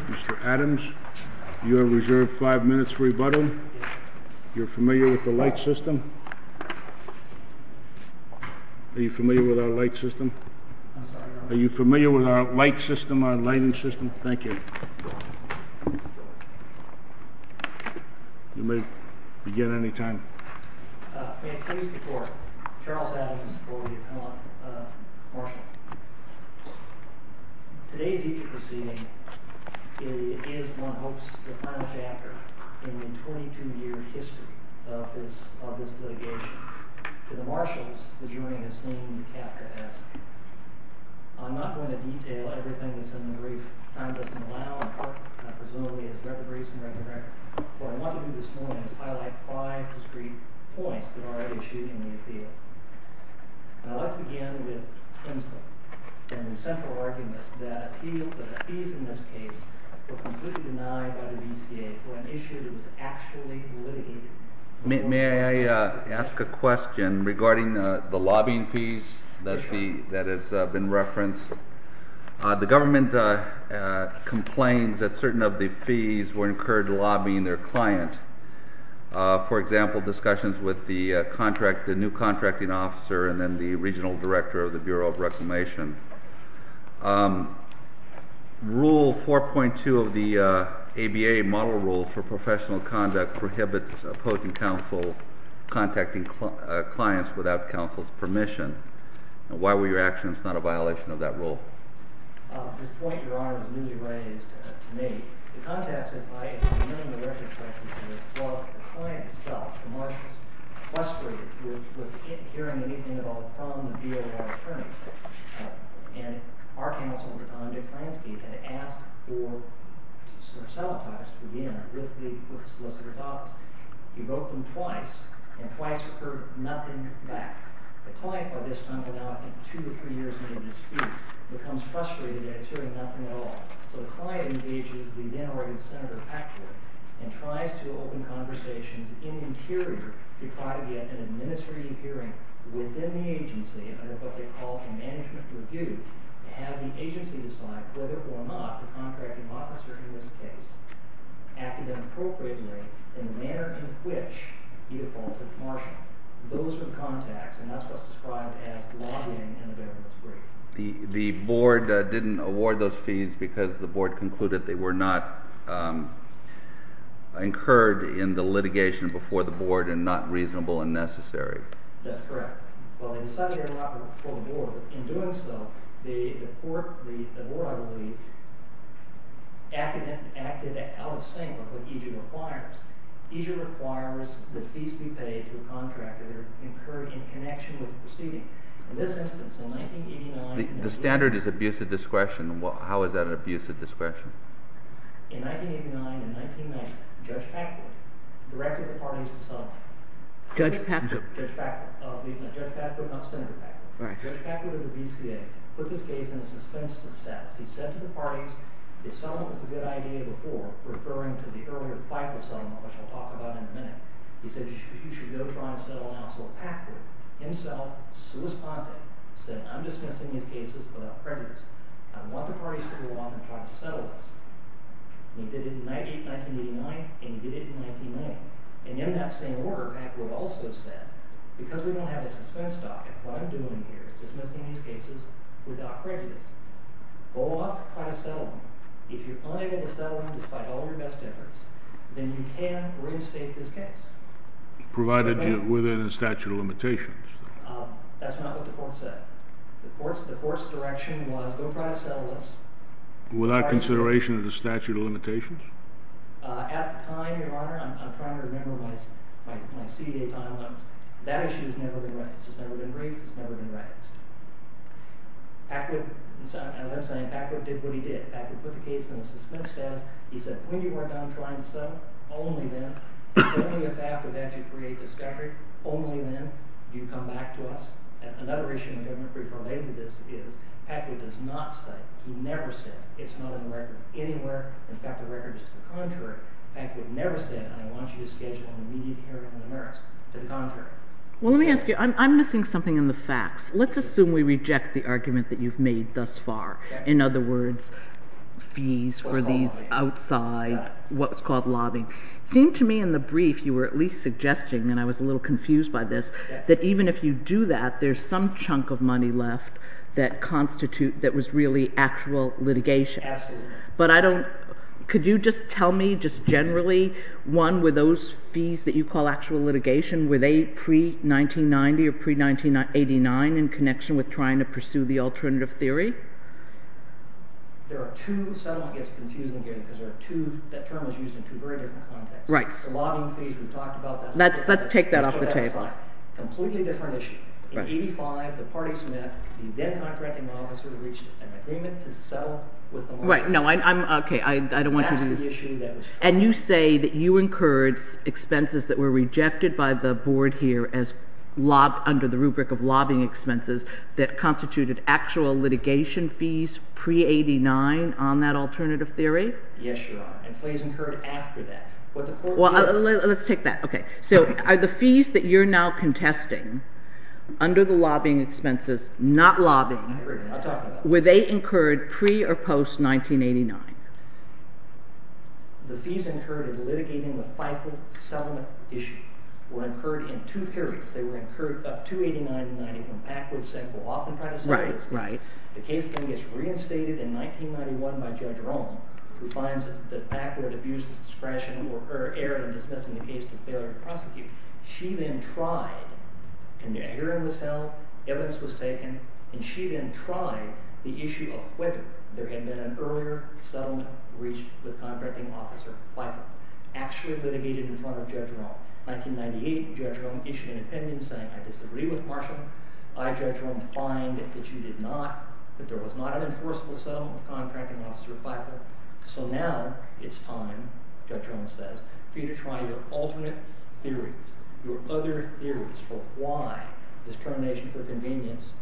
Mr. Adams, you have reserved 5 minutes for rebuttal, you are familiar with the light system? Are you familiar with our light system? Are you familiar with our light system, our light system? You may begin any time. May I please report, Charles Adams for the appellate marshal. Today's evening proceeding is one hopes the final chapter in the 22 year history of this litigation. To the marshals, the jury has seen the chapter asked. I'm not going to detail everything that's in the brief. Time doesn't allow, I presume we have the briefs and written record. What I want to do this morning is highlight 5 discrete points that are issued in the appeal. I'd like to begin with Tinsley and the central argument that the fees in this case were completely denied by the VCA for an issue that was actually litigated. May I ask a question regarding the lobbying fees that has been referenced? The government complains that certain of the fees were incurred lobbying their client. For example, discussions with the new contracting officer and then the regional director of the Bureau of Reclamation. Rule 4.2 of the ABA model rule for professional conduct prohibits opposing counsel contacting clients without counsel's permission. Why were your actions not a violation of that rule? This point, your honor, was newly raised to me. The context of my hearing the record for this was that the client himself, the marshals, frustrated with hearing anything at all from the Bureau of Attorney's. And our counsel, Dr. John Duklanski, had asked for some of the files to be in with the solicitor's office. He becomes frustrated that he's hearing nothing at all. So the client engages the then already Senator Packwood and tries to open conversations in the interior to try to get an administrative hearing within the agency under what they call a management review to have the agency decide whether or not the contracting officer in this case acted appropriately in the manner in which he had faulted the marshal. Those were the contacts, and that's what's described as lobbying in the benefits brief. The board didn't award those fees because the board concluded they were not incurred in the litigation before the board and not reasonable and necessary. That's correct. Well, they decided they were not before the board. In doing so, the board requires that fees be paid to a contractor incurred in connection with the proceeding. In this instance, in 1989- The standard is abuse of discretion. How is that an abuse of discretion? In 1989 and 1990, Judge Packwood directed the parties to settle. Judge Packwood? Judge Packwood, not Senator Packwood. Right. Judge Packwood of the BCA put this case in a suspense status. He said to the parties, the settlement was a good idea before, referring to the earlier fight for settlement, which I'll talk about in a minute. He said you should go try and settle now. So Packwood himself, solis ponte, said I'm dismissing these cases without prejudice. I want the parties to go off and try to settle this. And he did it in 1989 and he did it in 1990. And in that same order, Packwood also said, because we don't have a suspense docket, what I'm doing here is dismissing these cases without prejudice. Go off and try to settle them. If you're unable to settle them despite all your best efforts, then you can reinstate this case. Provided you're within the statute of limitations. That's not what the court said. The court's direction was go try to settle this- Without consideration of the statute of limitations? At the time, Your Honor, I'm trying to remember my CDA time limits, that issue has never been raised. It's never been raised. Packwood did what he did. Packwood put the case in the suspense status. He said, when you are done trying to settle, only then, only if after that you create discovery, only then do you come back to us. Another issue in government brief related to this is Packwood does not say, he never said, it's not in the record anywhere. In fact, the record is to the contrary. Packwood never said, I want you to schedule an immediate hearing on the merits. To the contrary. Well, let me ask you, I'm missing something in the facts. Let's assume we reject the argument that you've made thus far. In other words, fees for these outside, what's called lobbying. It seemed to me in the brief, you were at least suggesting, and I was a little confused by this, that even if you do that, there's some chunk of money left that constitute, that was really actual litigation. Absolutely. But I don't, could you just tell me just generally, one, were those fees that you call actual litigation, were they pre-1990 or pre-1989, in connection with trying to pursue the alternative theory? There are two, settlement gets confusing again, because there are two, that term is used in two very different contexts. Right. The lobbying fees, we've talked about that. Let's take that off the table. Completely different issue. In 85, the parties met, the then contracting officer reached an agreement to settle. Right, no, I'm, okay, I don't want to. And you say that you incurred expenses that were rejected by the board here as, under the rubric of lobbying expenses, that constituted actual litigation fees pre-89 on that alternative theory? Yes, Your Honor, and fees incurred after that. Well, let's take that, okay. So are the fees that you're now contesting, under the lobbying expenses, not lobbying, were they incurred pre- or post-1989? The fees incurred in litigating the FIFA settlement issue were incurred in two periods. They were incurred up to 89-90, when Packard said, well, I'm going to try to settle this case. Right, right. The case then gets reinstated in 1991 by Judge Rohn, who finds that Packard abused his discretion, or error in dismissing the case to failure to prosecute. She then tried, and a hearing was held, evidence was taken, and she then tried the issue of whether there had been an earlier settlement reached with Contracting Officer FIFA, actually litigated in front of Judge Rohn. In 1998, Judge Rohn issued an opinion saying, I disagree with Marshall. I, Judge Rohn, find that she did not, that there was not an enforceable settlement with Contracting Officer FIFA. So now, it's time, Judge Rohn says, for you to try your alternate theories, your other theories for why this termination for convenience,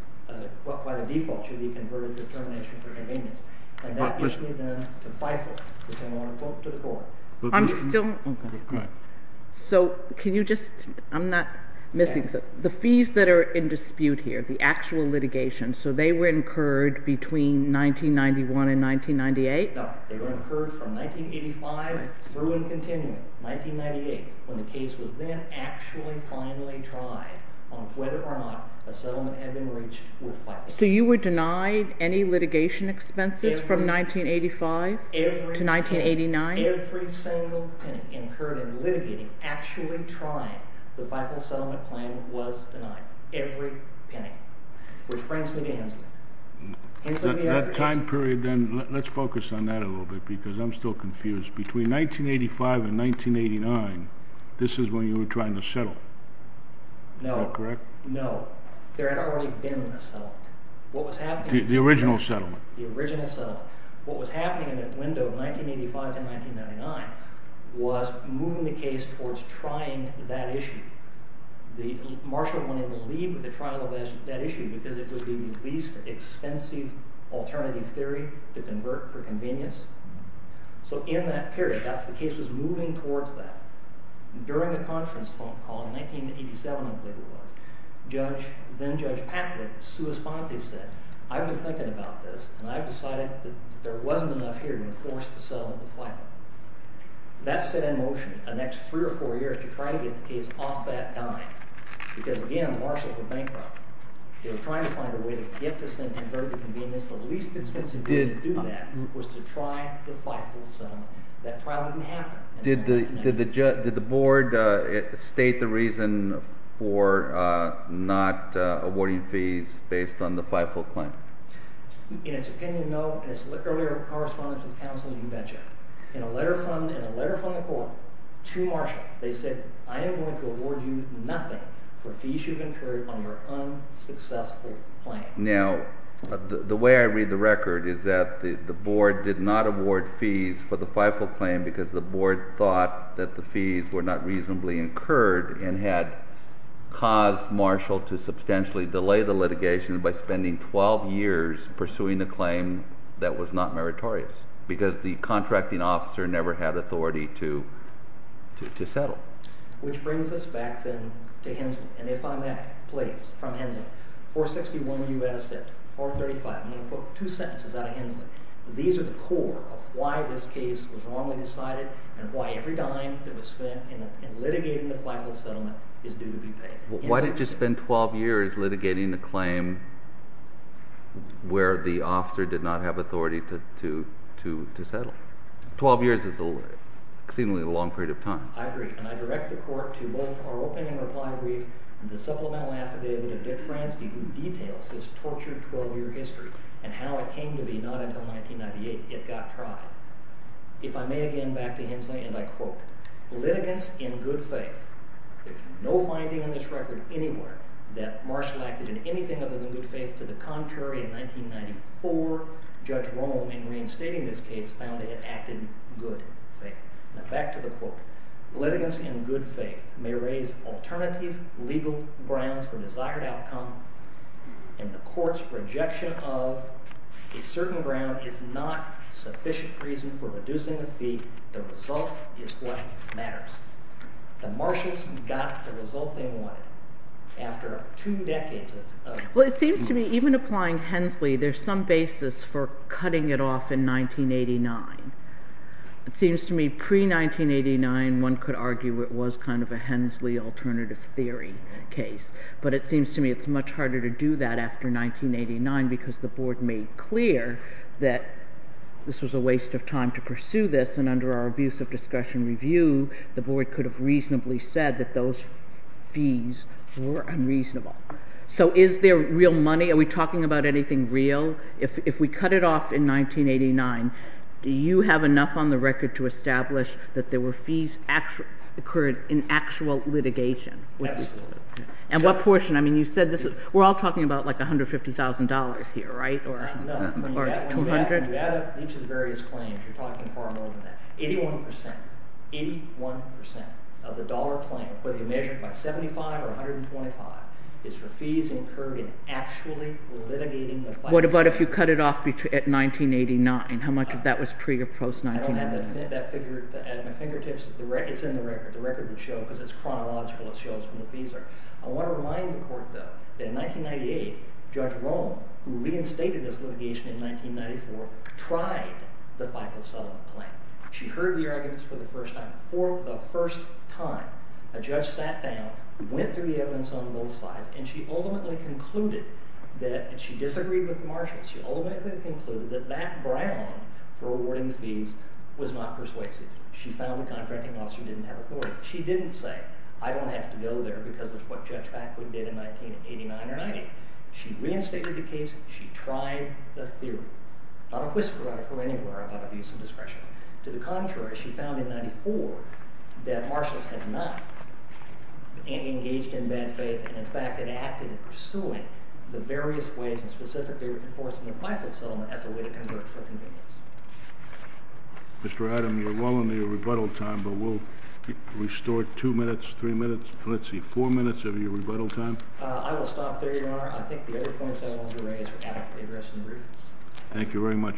why the default should be converted to termination for convenience. And that issue then, to FIFA, which I want to quote to the court. I'm still, so can you just, I'm not missing, the fees that are in dispute here, the actual litigation, so they were incurred between 1991 and 1998? No, they were incurred from 1985 through and continuing, 1998, when the case was then actually finally tried on whether or not a settlement had been reached with FIFA. So you were denied any litigation expenses from 1985 to 1989? Every single penny incurred in litigating, actually trying the FIFA settlement claim was denied. Every penny. Which brings me to Hanson. That time period then, let's focus on that a little bit, because I'm still confused. Between 1985 and 1989, this is when you were trying to settle? No, no. There had already been a settlement. The original settlement? The original settlement. What was happening in that window of 1985 to 1999 was moving the case towards trying that issue. Marshall wanted to leave with the trial of that issue because it would be the least expensive alternative theory to convert for convenience. So in that period, the case was moving towards that. During a conference phone call in 1987, I believe it was, then-Judge Patlick said, I've been thinking about this, and I've decided that there wasn't enough here to enforce the settlement with FIFA. That set in motion the next three or four years to try to get the case off that dime. Because again, Marshall had bankrupted. They were trying to find a way to get this thing converted to convenience. The least expensive way to do that was to try the FIFA settlement. That trial didn't happen. Did the board state the reason for not awarding fees based on the FIFA claim? In its opinion, no. In its earlier correspondence with counsel, you betcha. In a letter from the court to Marshall, they said, I am going to award you nothing for fees you've incurred on your unsuccessful claim. Now, the way I read the record is that the board did not award fees for the FIFA claim because the board thought that the fees were not reasonably incurred and had caused Marshall to substantially delay the litigation by spending 12 years pursuing a claim that was not meritorious because the contracting officer never had authority to settle. Which brings us back then to Henson, and if I'm at a place from Henson. 461 U.S. at 435. I'm going to quote two sentences out of Henson. These are the core of why this case was wrongly decided and why every dime that was spent in litigating the FIFA settlement is due to be paid. Why did you spend 12 years litigating a claim where the officer did not have authority to settle? 12 years is exceedingly a long period of time. I agree, and I direct the court to both our opening reply brief and the torture 12-year history and how it came to be not until 1998 it got tried. If I may again back to Hensley and I quote, litigants in good faith. There's no finding in this record anywhere that Marshall acted in anything other than good faith to the contrary in 1994. Judge Rome, in reinstating this case, found that it acted good faith. Now back to the quote. Litigants in good faith may raise alternative legal grounds for desired outcome, and the court's rejection of a certain ground is not sufficient reason for reducing the fee. The result is what matters. The Marshals got the result they wanted after two decades of Well, it seems to me even applying Hensley there's some basis for cutting it off in 1989. It seems to me pre-1989 one could argue it was kind of a Hensley alternative theory case. But it seems to me it's much harder to do that after 1989 because the board made clear that this was a waste of time to pursue this and under our abuse of discussion review the board could have reasonably said that those fees were unreasonable. So is there real money? Are we talking about anything real? If we cut it off in 1989, do you have enough on the record to establish that there were fees that occurred in actual litigation? Absolutely. And what portion? We're all talking about like $150,000 here, right? No. When you add up each of the various claims, you're talking far more than that. 81% of the dollar claim, whether you measure it by 75 or 125, is for fees incurred in actually litigating the claims. What about if you cut it off at 1989? How much of that was pre or post-1989? I don't have that figure at my fingertips. It's in the record. The record would show because it's chronological. It shows when the fees are. I want to remind the court, though, that in 1998, Judge Rome, who reinstated this litigation in 1994, tried the Michael Sullivan claim. She heard the arguments for the first time. For the first time, a judge sat down, went through the evidence on both sides, and she ultimately concluded that she disagreed with the marshals. She ultimately concluded that that ground for awarding the fees was not persuasive. She found the contracting officer didn't have authority. She didn't say, I don't have to go there because of what Judge Backwood did in 1989 or 1990. She reinstated the case. She tried the theory. Not a whisper out of her anywhere about abuse of discretion. To the contrary, she found in 1994 that marshals had not engaged in bad faith and, in fact, had acted in pursuing the various ways and specifically enforcing the Michael Sullivan as a way to convert for convenience. Mr. Adam, you're well on your rebuttal time, but we'll restore two minutes, three minutes, let's see, four minutes of your rebuttal time. I will stop there, Your Honor. I think the other points I wanted to raise are adequately addressed in the brief. Thank you very much.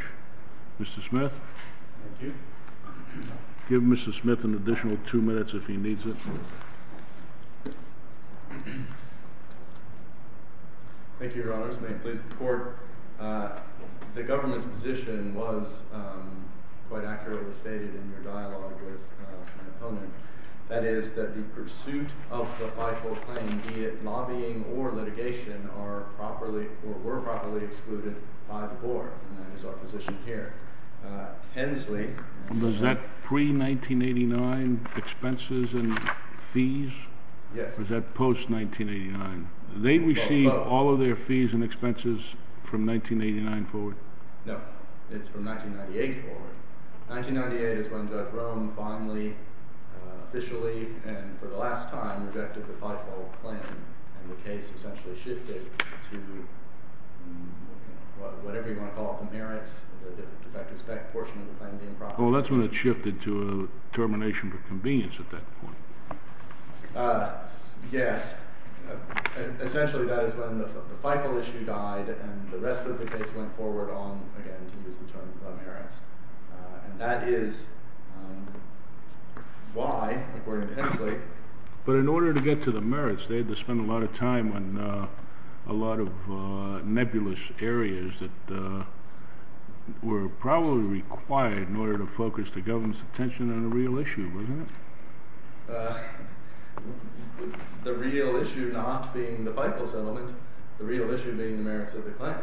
Mr. Smith? Thank you. Give Mr. Smith an additional two minutes if he needs it. Thank you, Your Honor. Mr. Smith, please. The court, the government's position was quite accurately stated in your dialogue with my opponent. That is that the pursuit of the 5-4 claim, be it lobbying or litigation, were properly excluded by the court, and that is our position here. Hensley Was that pre-1989 expenses and fees? Yes. Or is that post-1989? They received all of their fees and expenses from 1989 forward? No. It's from 1998 forward. 1998 is when Judge Rohn finally, officially, and for the last time, rejected the 5-4 claim, and the case essentially shifted to whatever you want to call it, the merits, the defective spec portion of the claim being properly excluded. Oh, that's when it shifted to a termination for convenience at that point. Yes. Essentially, that is when the FIFO issue died, and the rest of the case went forward on, again, to use the term merits. And that is why, according to Hensley But in order to get to the merits, they had to spend a lot of time on a lot of nebulous areas that were probably required in order to focus the government's attention on a real issue, wasn't it? The real issue not being the FIFO settlement, the real issue being the merits of the claim,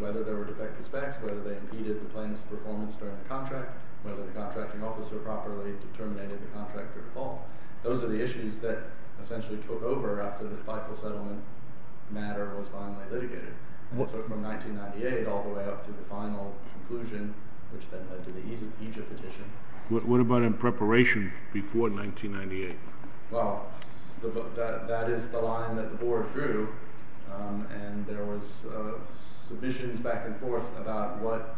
whether there were defective specs, whether they impeded the claim's performance during the contract, whether the contracting officer properly terminated the contract or default. Those are the issues that essentially took over after the FIFO settlement matter was finally litigated, from 1998 all the way up to the final conclusion, which then led to the Egypt petition. What about in preparation before 1998? Well, that is the line that the board drew, and there was submissions back and forth about what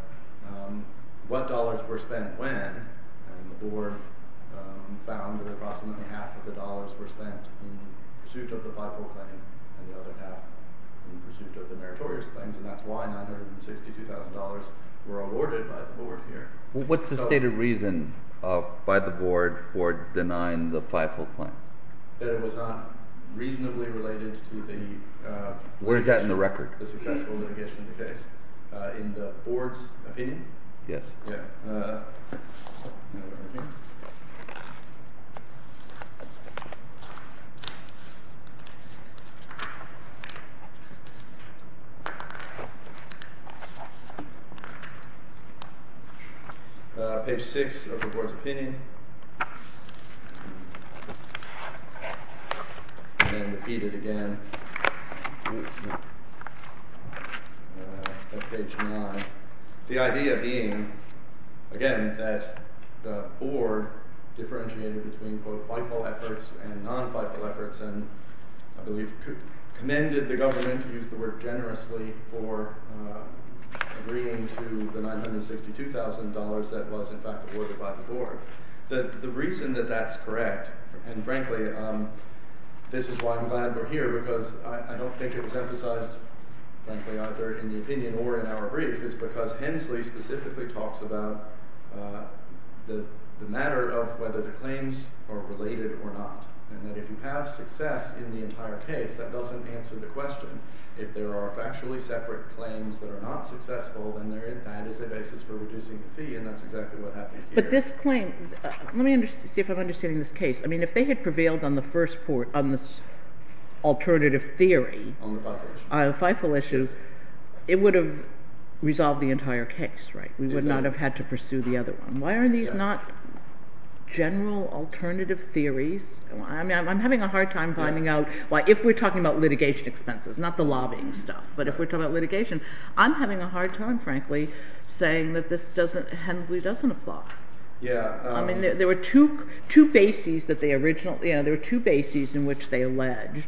dollars were spent when, and the board found that approximately half of the dollars were spent in pursuit of the FIFO claim and the other half in pursuit of the meritorious claims, and that's why $962,000 were awarded by the board here. What's the stated reason by the board for denying the FIFO claim? That it was not reasonably related to the successful litigation of the case. In the board's opinion? Yes. Page 6 of the board's opinion, and then repeat it again at page 9. The idea being, again, that the board differentiated between both FIFO efforts and non-FIFO efforts and I believe commended the government to use the word generously for agreeing to the $962,000 that was in fact awarded by the board. The reason that that's correct, and frankly, this is why I'm glad we're here, because I don't think it's emphasized, frankly, either in the opinion or in our brief, is because Hensley specifically talks about the matter of whether the claims are related or not, and that if you have If there are factually separate claims that are not successful, then that is a basis for reducing the fee, and that's exactly what happened here. But this claim, let me see if I'm understanding this case. I mean, if they had prevailed on the alternative theory on the FIFO issue, it would have resolved the entire case, right? We would not have had to pursue the other one. Why are these not general alternative theories? I'm having a hard time finding out why, if we're talking about litigation expenses, not the lobbying stuff, but if we're talking about litigation, I'm having a hard time, frankly, saying that Hensley doesn't apply. I mean, there were two bases in which they alleged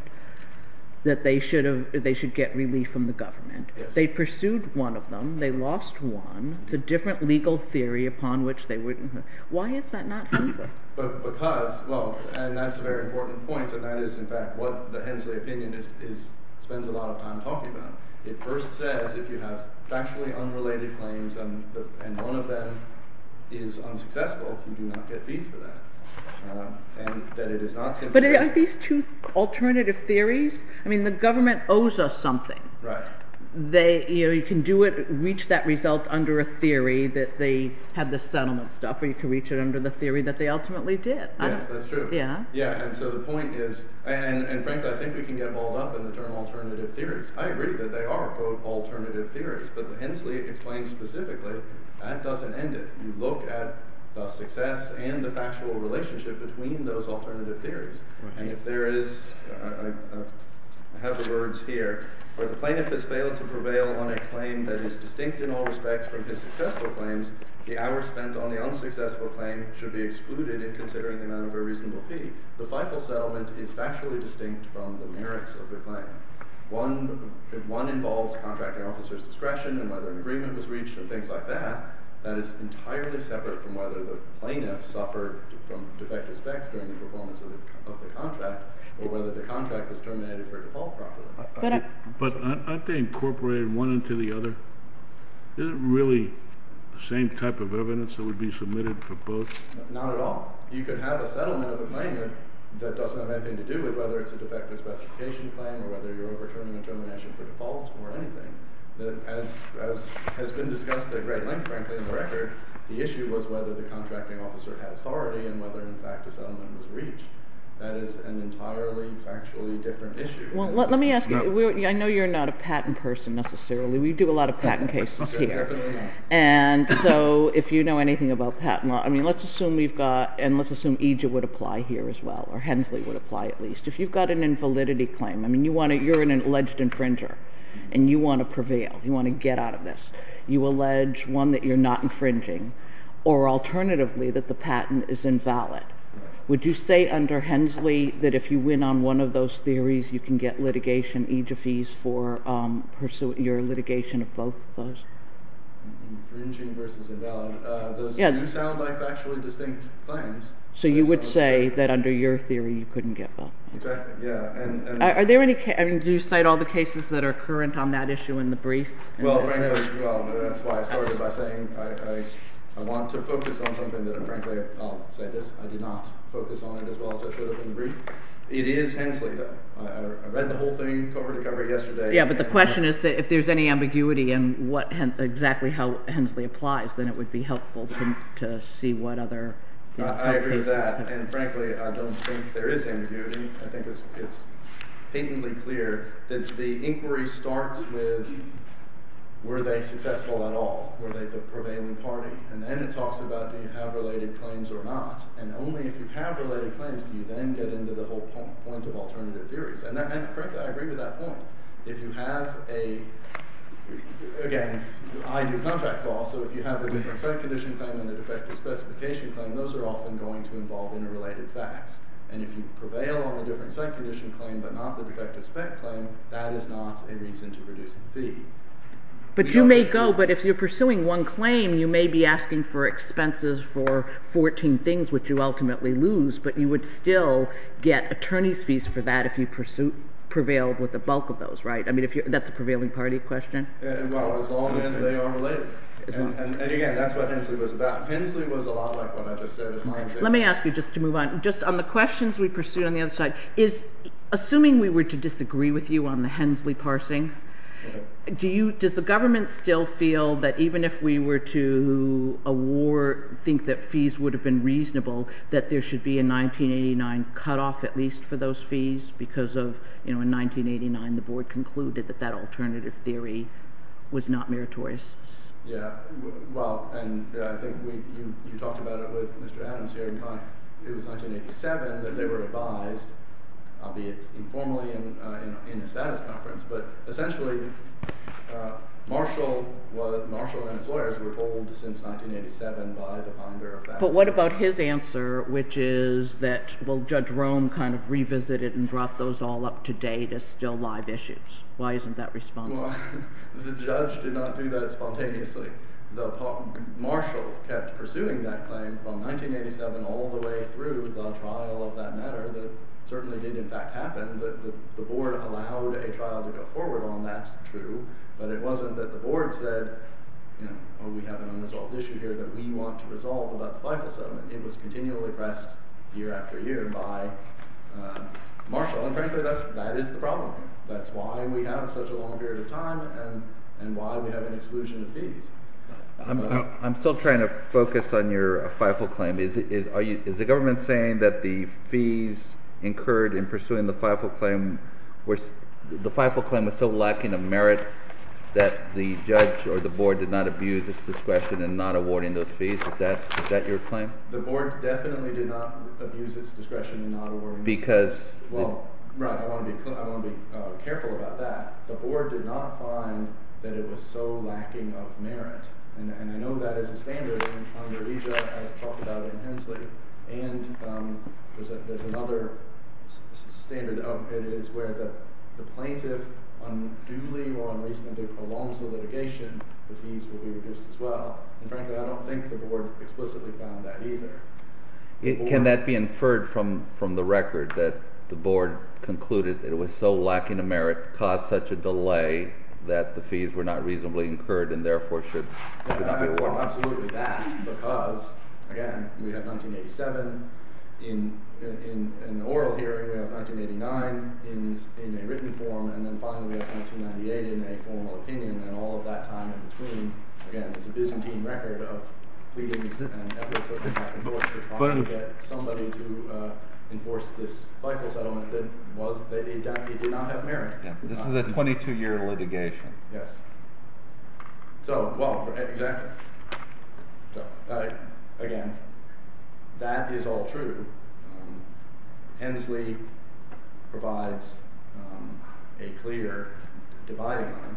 that they should get relief from the government. They pursued one of them. They lost one. It's a different legal theory upon which they wouldn't. Why is that not Hensley? Because, well, and that's a very important point, and that is in fact what the Hensley opinion spends a lot of time talking about. It first says if you have factually unrelated claims and one of them is unsuccessful, you do not get fees for that. And that it is not simply based on that. But are these two alternative theories? I mean, the government owes us something. Right. You can reach that result under a theory that they had the settlement stuff, or you can reach it under the theory that they ultimately did. Yes, that's true. Yeah? And so the point is, and frankly, I think we can get balled up in the term alternative theories. I agree that they are, quote, alternative theories. But Hensley explains specifically that doesn't end it. You look at the success and the factual relationship between those alternative theories. And if there is, I have the words here. For the plaintiff has failed to prevail on a claim that is distinct in all respects from his successful claims, the hours spent on the unsuccessful claim should be excluded in considering the amount of a reasonable fee. The FIFO settlement is factually distinct from the merits of the claim. If one involves contracting officer's discretion and whether an agreement was reached and things like that, that is entirely separate from whether the plaintiff suffered from defective specs during the performance of the contract, or whether the contract was terminated for default property. But aren't they incorporated one into the other? Isn't it really the same type of evidence that would be submitted for both? Not at all. You could have a settlement of a claim that doesn't have anything to do with whether it's a defective specification claim or whether you're overturning the termination for default or anything. As has been discussed at great length, frankly, in the record, the issue was whether the contracting officer had authority and whether, in fact, a settlement was reached. That is an entirely factually different issue. Well, let me ask you. I know you're not a patent person necessarily. We do a lot of patent cases here. Definitely not. And so if you know anything about patent law, I mean, let's assume we've got, and let's assume EGIF would apply here as well, or Hensley would apply at least. If you've got an invalidity claim, I mean, you're an alleged infringer, and you want to prevail. You want to get out of this. You allege, one, that you're not infringing, or alternatively, that the patent is invalid. Would you say under Hensley that if you win on one of those theories, you can get litigation, EGIF fees, for your litigation of both of those? Infringing versus invalid. Those do sound like factually distinct claims. So you would say that under your theory, you couldn't get both. Exactly, yeah. Are there any, I mean, do you cite all the cases that are current on that issue in the brief? Well, frankly, as well. That's why I started by saying I want to focus on something that, frankly, I'll say this. I did not focus on it as well as I should have in the brief. It is Hensley, though. I read the whole thing cover to cover yesterday. Yeah, but the question is if there's any ambiguity in exactly how Hensley applies, then it would be helpful to see what other. I agree with that. And frankly, I don't think there is ambiguity. I think it's patently clear that the inquiry starts with were they successful at all? Were they the prevailing party? And then it talks about do you have related claims or not. And only if you have related claims do you then get into the whole point of alternative theories. And frankly, I agree with that point. If you have a, again, I do contract law, so if you have a different site condition claim and a defective specification claim, those are often going to involve interrelated facts. And if you prevail on the different site condition claim but not the defective spec claim, that is not a reason to produce the fee. But you may go, but if you're pursuing one claim, you may be asking for expenses for 14 things, which you ultimately lose, but you would still get the bulk of those, right? I mean, that's a prevailing party question. Well, as long as they are related. And again, that's what Hensley was about. Hensley was a lot like what I just said. Let me ask you, just to move on, just on the questions we pursued on the other side, is assuming we were to disagree with you on the Hensley parsing, does the government still feel that even if we were to award, think that fees would have been reasonable, that there should be a board concluded that that alternative theory was not meritorious? Yeah. Well, and I think you talked about it with Mr. Adams here. It was 1987 that they were advised, albeit informally in a status conference, but essentially Marshall and his lawyers were hold since 1987 by the Ponderer family. But what about his answer, which is that, well, Judge Rome kind of said, well, today there's still live issues. Why isn't that responsible? Well, the judge did not do that spontaneously. Marshall kept pursuing that claim from 1987 all the way through the trial of that matter that certainly did, in fact, happen. But the board allowed a trial to go forward on that. That's true. But it wasn't that the board said, you know, oh, we have an unresolved issue here that we want to resolve about the Fife settlement. It was continually pressed year after year by Marshall. Well, and frankly, that is the problem. That's why we have such a long period of time and why we have an exclusion of fees. I'm still trying to focus on your Fife claim. Is the government saying that the fees incurred in pursuing the Fife claim was so lacking of merit that the judge or the board did not abuse its discretion in not awarding those fees? Is that your claim? The board definitely did not abuse its discretion in not awarding those fees. Well, right. I want to be careful about that. The board did not find that it was so lacking of merit. And I know that is a standard. And Andreeja has talked about it intensely. And there's another standard of it is where the plaintiff unduly or unreasonably prolongs the litigation, the fees will be reduced as well. And frankly, I don't think the board explicitly found that either. Can that be inferred from the record that the board concluded that it was so lacking of merit caused such a delay that the fees were not reasonably incurred and therefore should not be performed? Absolutely that. Because, again, we have 1987. In the oral hearing, we have 1989 in a written form. And then finally, we have 1998 in a formal opinion. And all of that time in between, again, it's a Byzantine record of meetings and efforts of the board to try to get somebody to enforce this bifurcate on it that it did not have merit. This is a 22-year litigation. Yes. So, well, exactly. So, again, that is all true. Hensley provides a clear dividing line.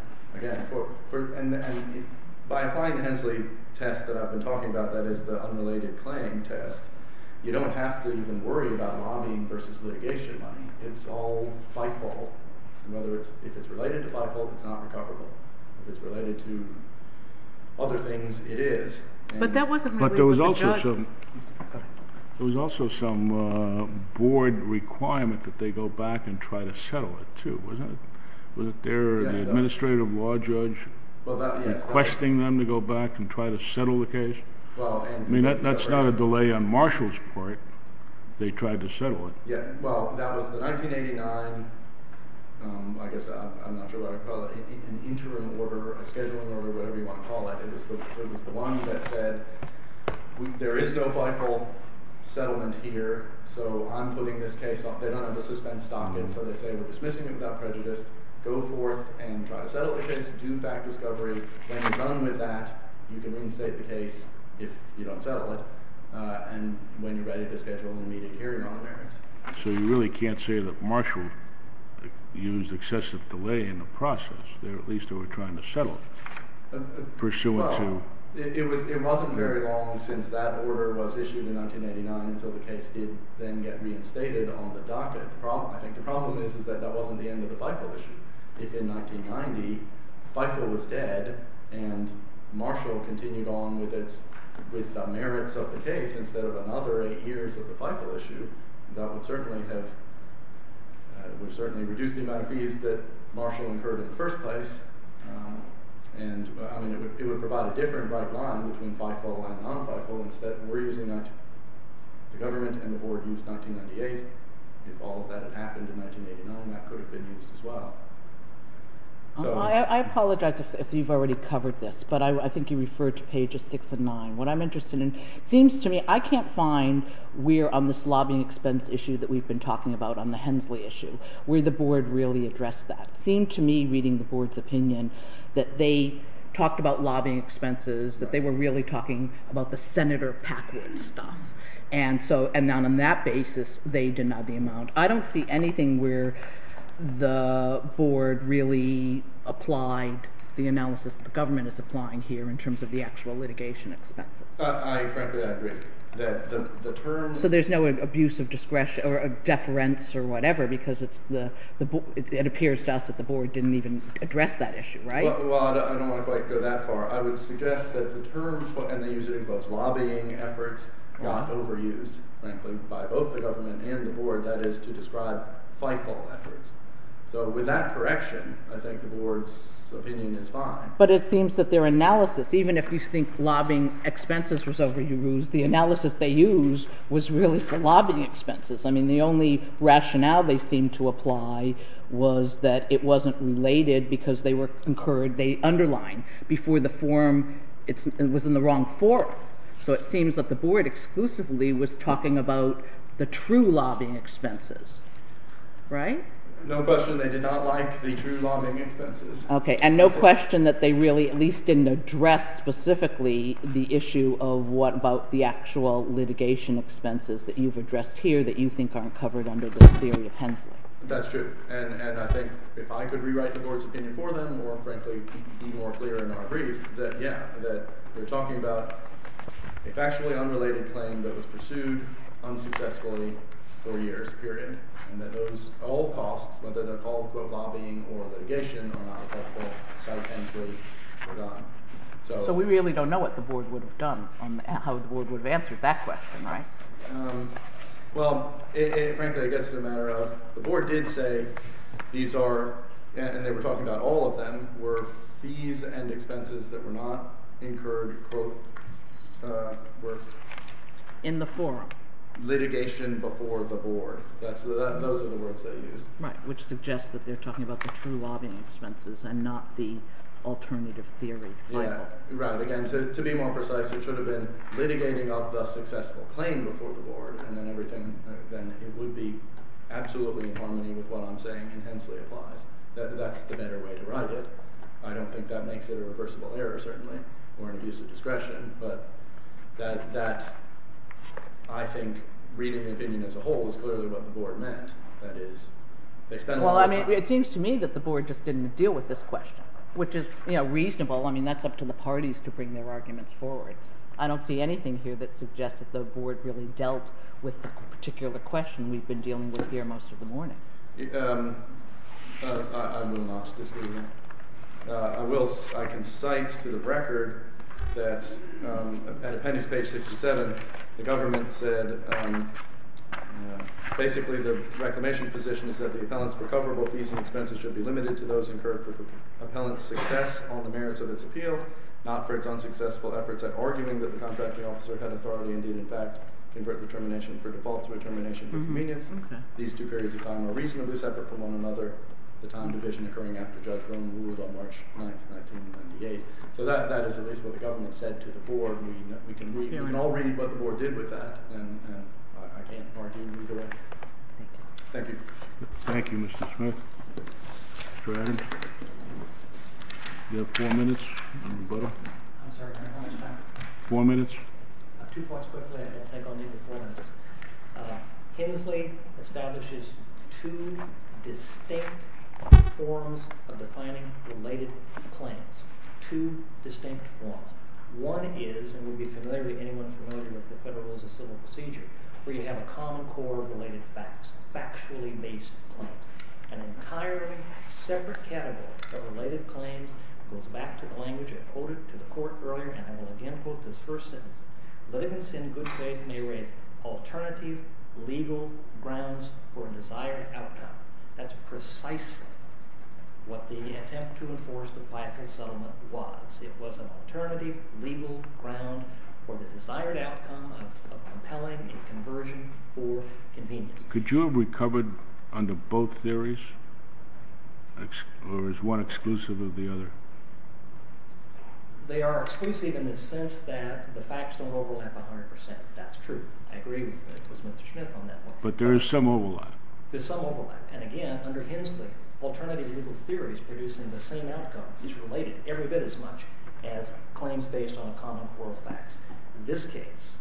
And by applying the Hensley test that I've been talking about, that is the unrelated claim test, you don't have to even worry about lobbying versus litigation money. It's all by fault. And if it's related to by fault, it's not recoverable. If it's related to other things, it is. But there was also some board requirement that they go back and try to settle it, too, wasn't it? Was it their administrative law judge requesting them to go back and try to settle the case? I mean, that's not a delay on Marshall's part. They tried to settle it. Well, that was the 1989, I guess, I'm not sure what I'd call it, an interim order, a scheduling order, whatever you want to call it. It was the one that said there is no viable settlement here, so I'm putting this case off. They don't have the suspense stock in, so they say we're dismissing it without prejudice, go forth and try to settle the case, do fact discovery. When you're done with that, you can reinstate the case if you don't settle it. And when you're ready to schedule an immediate hearing on the merits. So you really can't say that Marshall used excessive delay in the process there, at least they were trying to settle it, pursuant to? It wasn't very long since that order was issued in 1989 until the case did then get reinstated on the docket. I think the problem is that that wasn't the end of the FIFO issue. If in 1990 FIFO was dead and Marshall continued on with the merits of the case instead of another eight years of the FIFO issue, that would certainly reduce the amount of fees that Marshall incurred in the first place, and it would provide a different right line between FIFO and non-FIFO. The government and the board used 1998. If all of that had happened in 1989, that could have been used as well. I apologize if you've already covered this, but I think you referred to pages six and nine. What I'm interested in, it seems to me, I can't find where on this lobbying expense issue that we've been talking about on the Hensley issue, where the board really addressed that. It seemed to me, reading the board's opinion, that they talked about lobbying expenses, that they were really talking about the Senator Packwood stuff, and on that basis they denied the amount. I don't see anything where the board really applied the analysis that the government is applying here in terms of the actual litigation expense. I frankly agree. So there's no abuse of discretion or deference or whatever because it appears to us that the board didn't even address that issue, right? Well, I don't want to go that far. I would suggest that the term put in the use of the book, lobbying efforts, got overused, frankly, by both the government and the board. That is to describe fightful efforts. So with that correction, I think the board's opinion is fine. But it seems that their analysis, even if you think lobbying expenses was overused, the analysis they used was really for lobbying expenses. I mean, the only rationale they seemed to apply was that it wasn't related because they underlined before the forum it was in the wrong forum. So it seems that the board exclusively was talking about the true lobbying expenses, right? No question they did not like the true lobbying expenses. Okay, and no question that they really at least didn't address specifically the issue of what about the actual litigation expenses that you've addressed here that you think aren't covered under the theory of Hensley. That's true, and I think if I could rewrite the board's opinion for them or, frankly, be more clear in our brief, that, yeah, that we're talking about a factually unrelated claim that was pursued unsuccessfully for years, period, and that those all costs, whether they're called for lobbying or litigation, are not covered by Hensley or Don. So we really don't know what the board would have done and how the board would have answered that question, right? Well, frankly, I guess it's a matter of the board did say these are, and they were talking about all of them, were fees and expenses that were not incurred, quote, were... In the forum. Litigation before the board. Those are the words they used. Right, which suggests that they're talking about the true lobbying expenses and not the alternative theory. Yeah, right. Again, to be more precise, it should have been litigating of the successful claim before the board, and then it would be absolutely in harmony with what I'm saying when Hensley applies. That's the better way to write it. I don't think that makes it a reversible error, certainly, or an abuse of discretion, but that, I think, reading the opinion as a whole is clearly what the board meant. That is, they spent a lot of time... Well, it seems to me that the board just didn't deal with this question, which is reasonable. I mean, that's up to the parties to bring their arguments forward. I don't see anything here that suggests that the board really dealt with the particular question we've been dealing with here most of the morning. I will not disagree with that. I can cite to the record that at appendix page 67, the government said, basically, the reclamation position is that the appellant's recoverable fees and expenses should be limited to those incurred for the appellant's success, all the merits of its appeal, not for its unsuccessful efforts at arguing that the contracting officer had authority and did, in fact, convert determination for default to determination for convenience. These two periods of time are reasonably separate from one another, the time division occurring after Judge Rohn ruled on March 9th, 1998. So that is at least what the government said to the board. We can all read what the board did with that, and I can't argue either way. Thank you. Thank you, Mr. Smith. Mr. Adams, you have four minutes. I'm sorry, how much time? Four minutes. Two points quickly, and then I'll take only the four minutes. Hensley establishes two distinct forms of defining related claims, two distinct forms. One is, and we'll be familiar to anyone familiar with the Federal Rules of Civil Procedure, where you have a common core of related facts, factually based claims. An entirely separate category of related claims goes back to the language I quoted to the court earlier, and I will again quote this first sentence, livings in good faith may raise alternative legal grounds for a desired outcome. That's precisely what the attempt to enforce the Fayetteville Settlement was. It was an alternative legal ground for the desired outcome of compelling a conversion for convenience. Could you have recovered under both theories, or is one exclusive of the other? They are exclusive in the sense that the facts don't overlap 100%. That's true. I agree with Mr. Smith on that one. But there is some overlap. There's some overlap. And again, under Hensley, alternative legal theories producing the same outcome is related every bit as much as claims based on a common core of facts. This case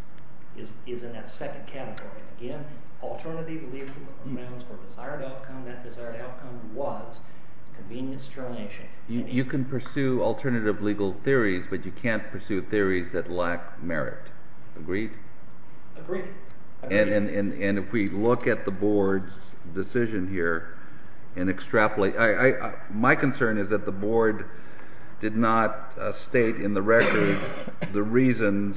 is in that second category. Again, alternative legal grounds for a desired outcome. That desired outcome was convenience termination. You can pursue alternative legal theories, but you can't pursue theories that lack merit. Agreed? Agreed. And if we look at the Board's decision here and extrapolate, my concern is that the Board did not state in the record the reasons,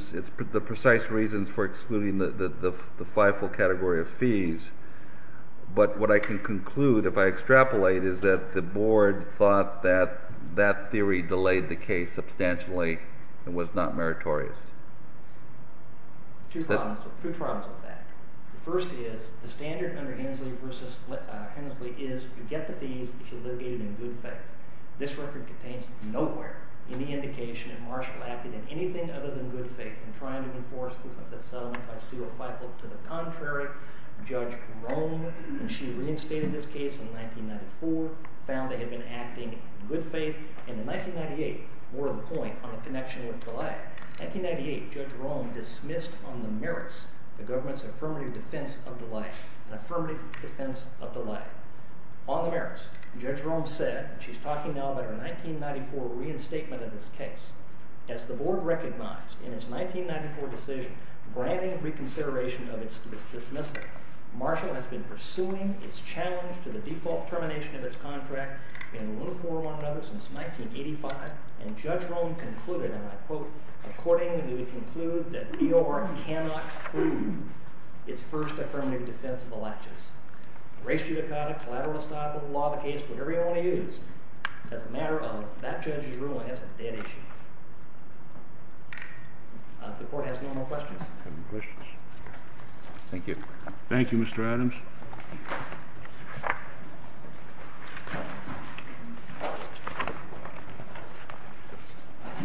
the precise reasons for excluding the fivefold category of fees. But what I can conclude if I extrapolate is that the Board thought that that theory delayed the case substantially and was not meritorious. Two problems with that. The first is the standard under Hensley is you get the fees if you litigate in good faith. This record contains nowhere any indication that Marshall acted in anything other than good faith in trying to enforce the settlement by seal of fivefold. To the contrary, Judge Rohn, when she reinstated this case in 1994, found they had been acting in good faith. And in 1998, more to the point, on a connection with Goliath, in 1998, Judge Rohn dismissed on the merits the government's affirmative defense of Goliath, an affirmative defense of Goliath. On the merits, Judge Rohn said, and she's talking now about her 1994 reinstatement of this case, as the Board recognized in its 1994 decision granting reconsideration of its dismissal, Marshall has been pursuing its challenge to the default termination of its contract in lieu for one another since 1985. And Judge Rohn concluded, and I quote, Accordingly, we conclude that E.O.R. cannot prove its first affirmative defense of the Latchis. Race judicata, collateral estoppel, law of the case, whatever you want to use, as a matter of that judge's ruling, that's a dead issue. If the Court has no more questions. Thank you. Thank you, Mr. Adams.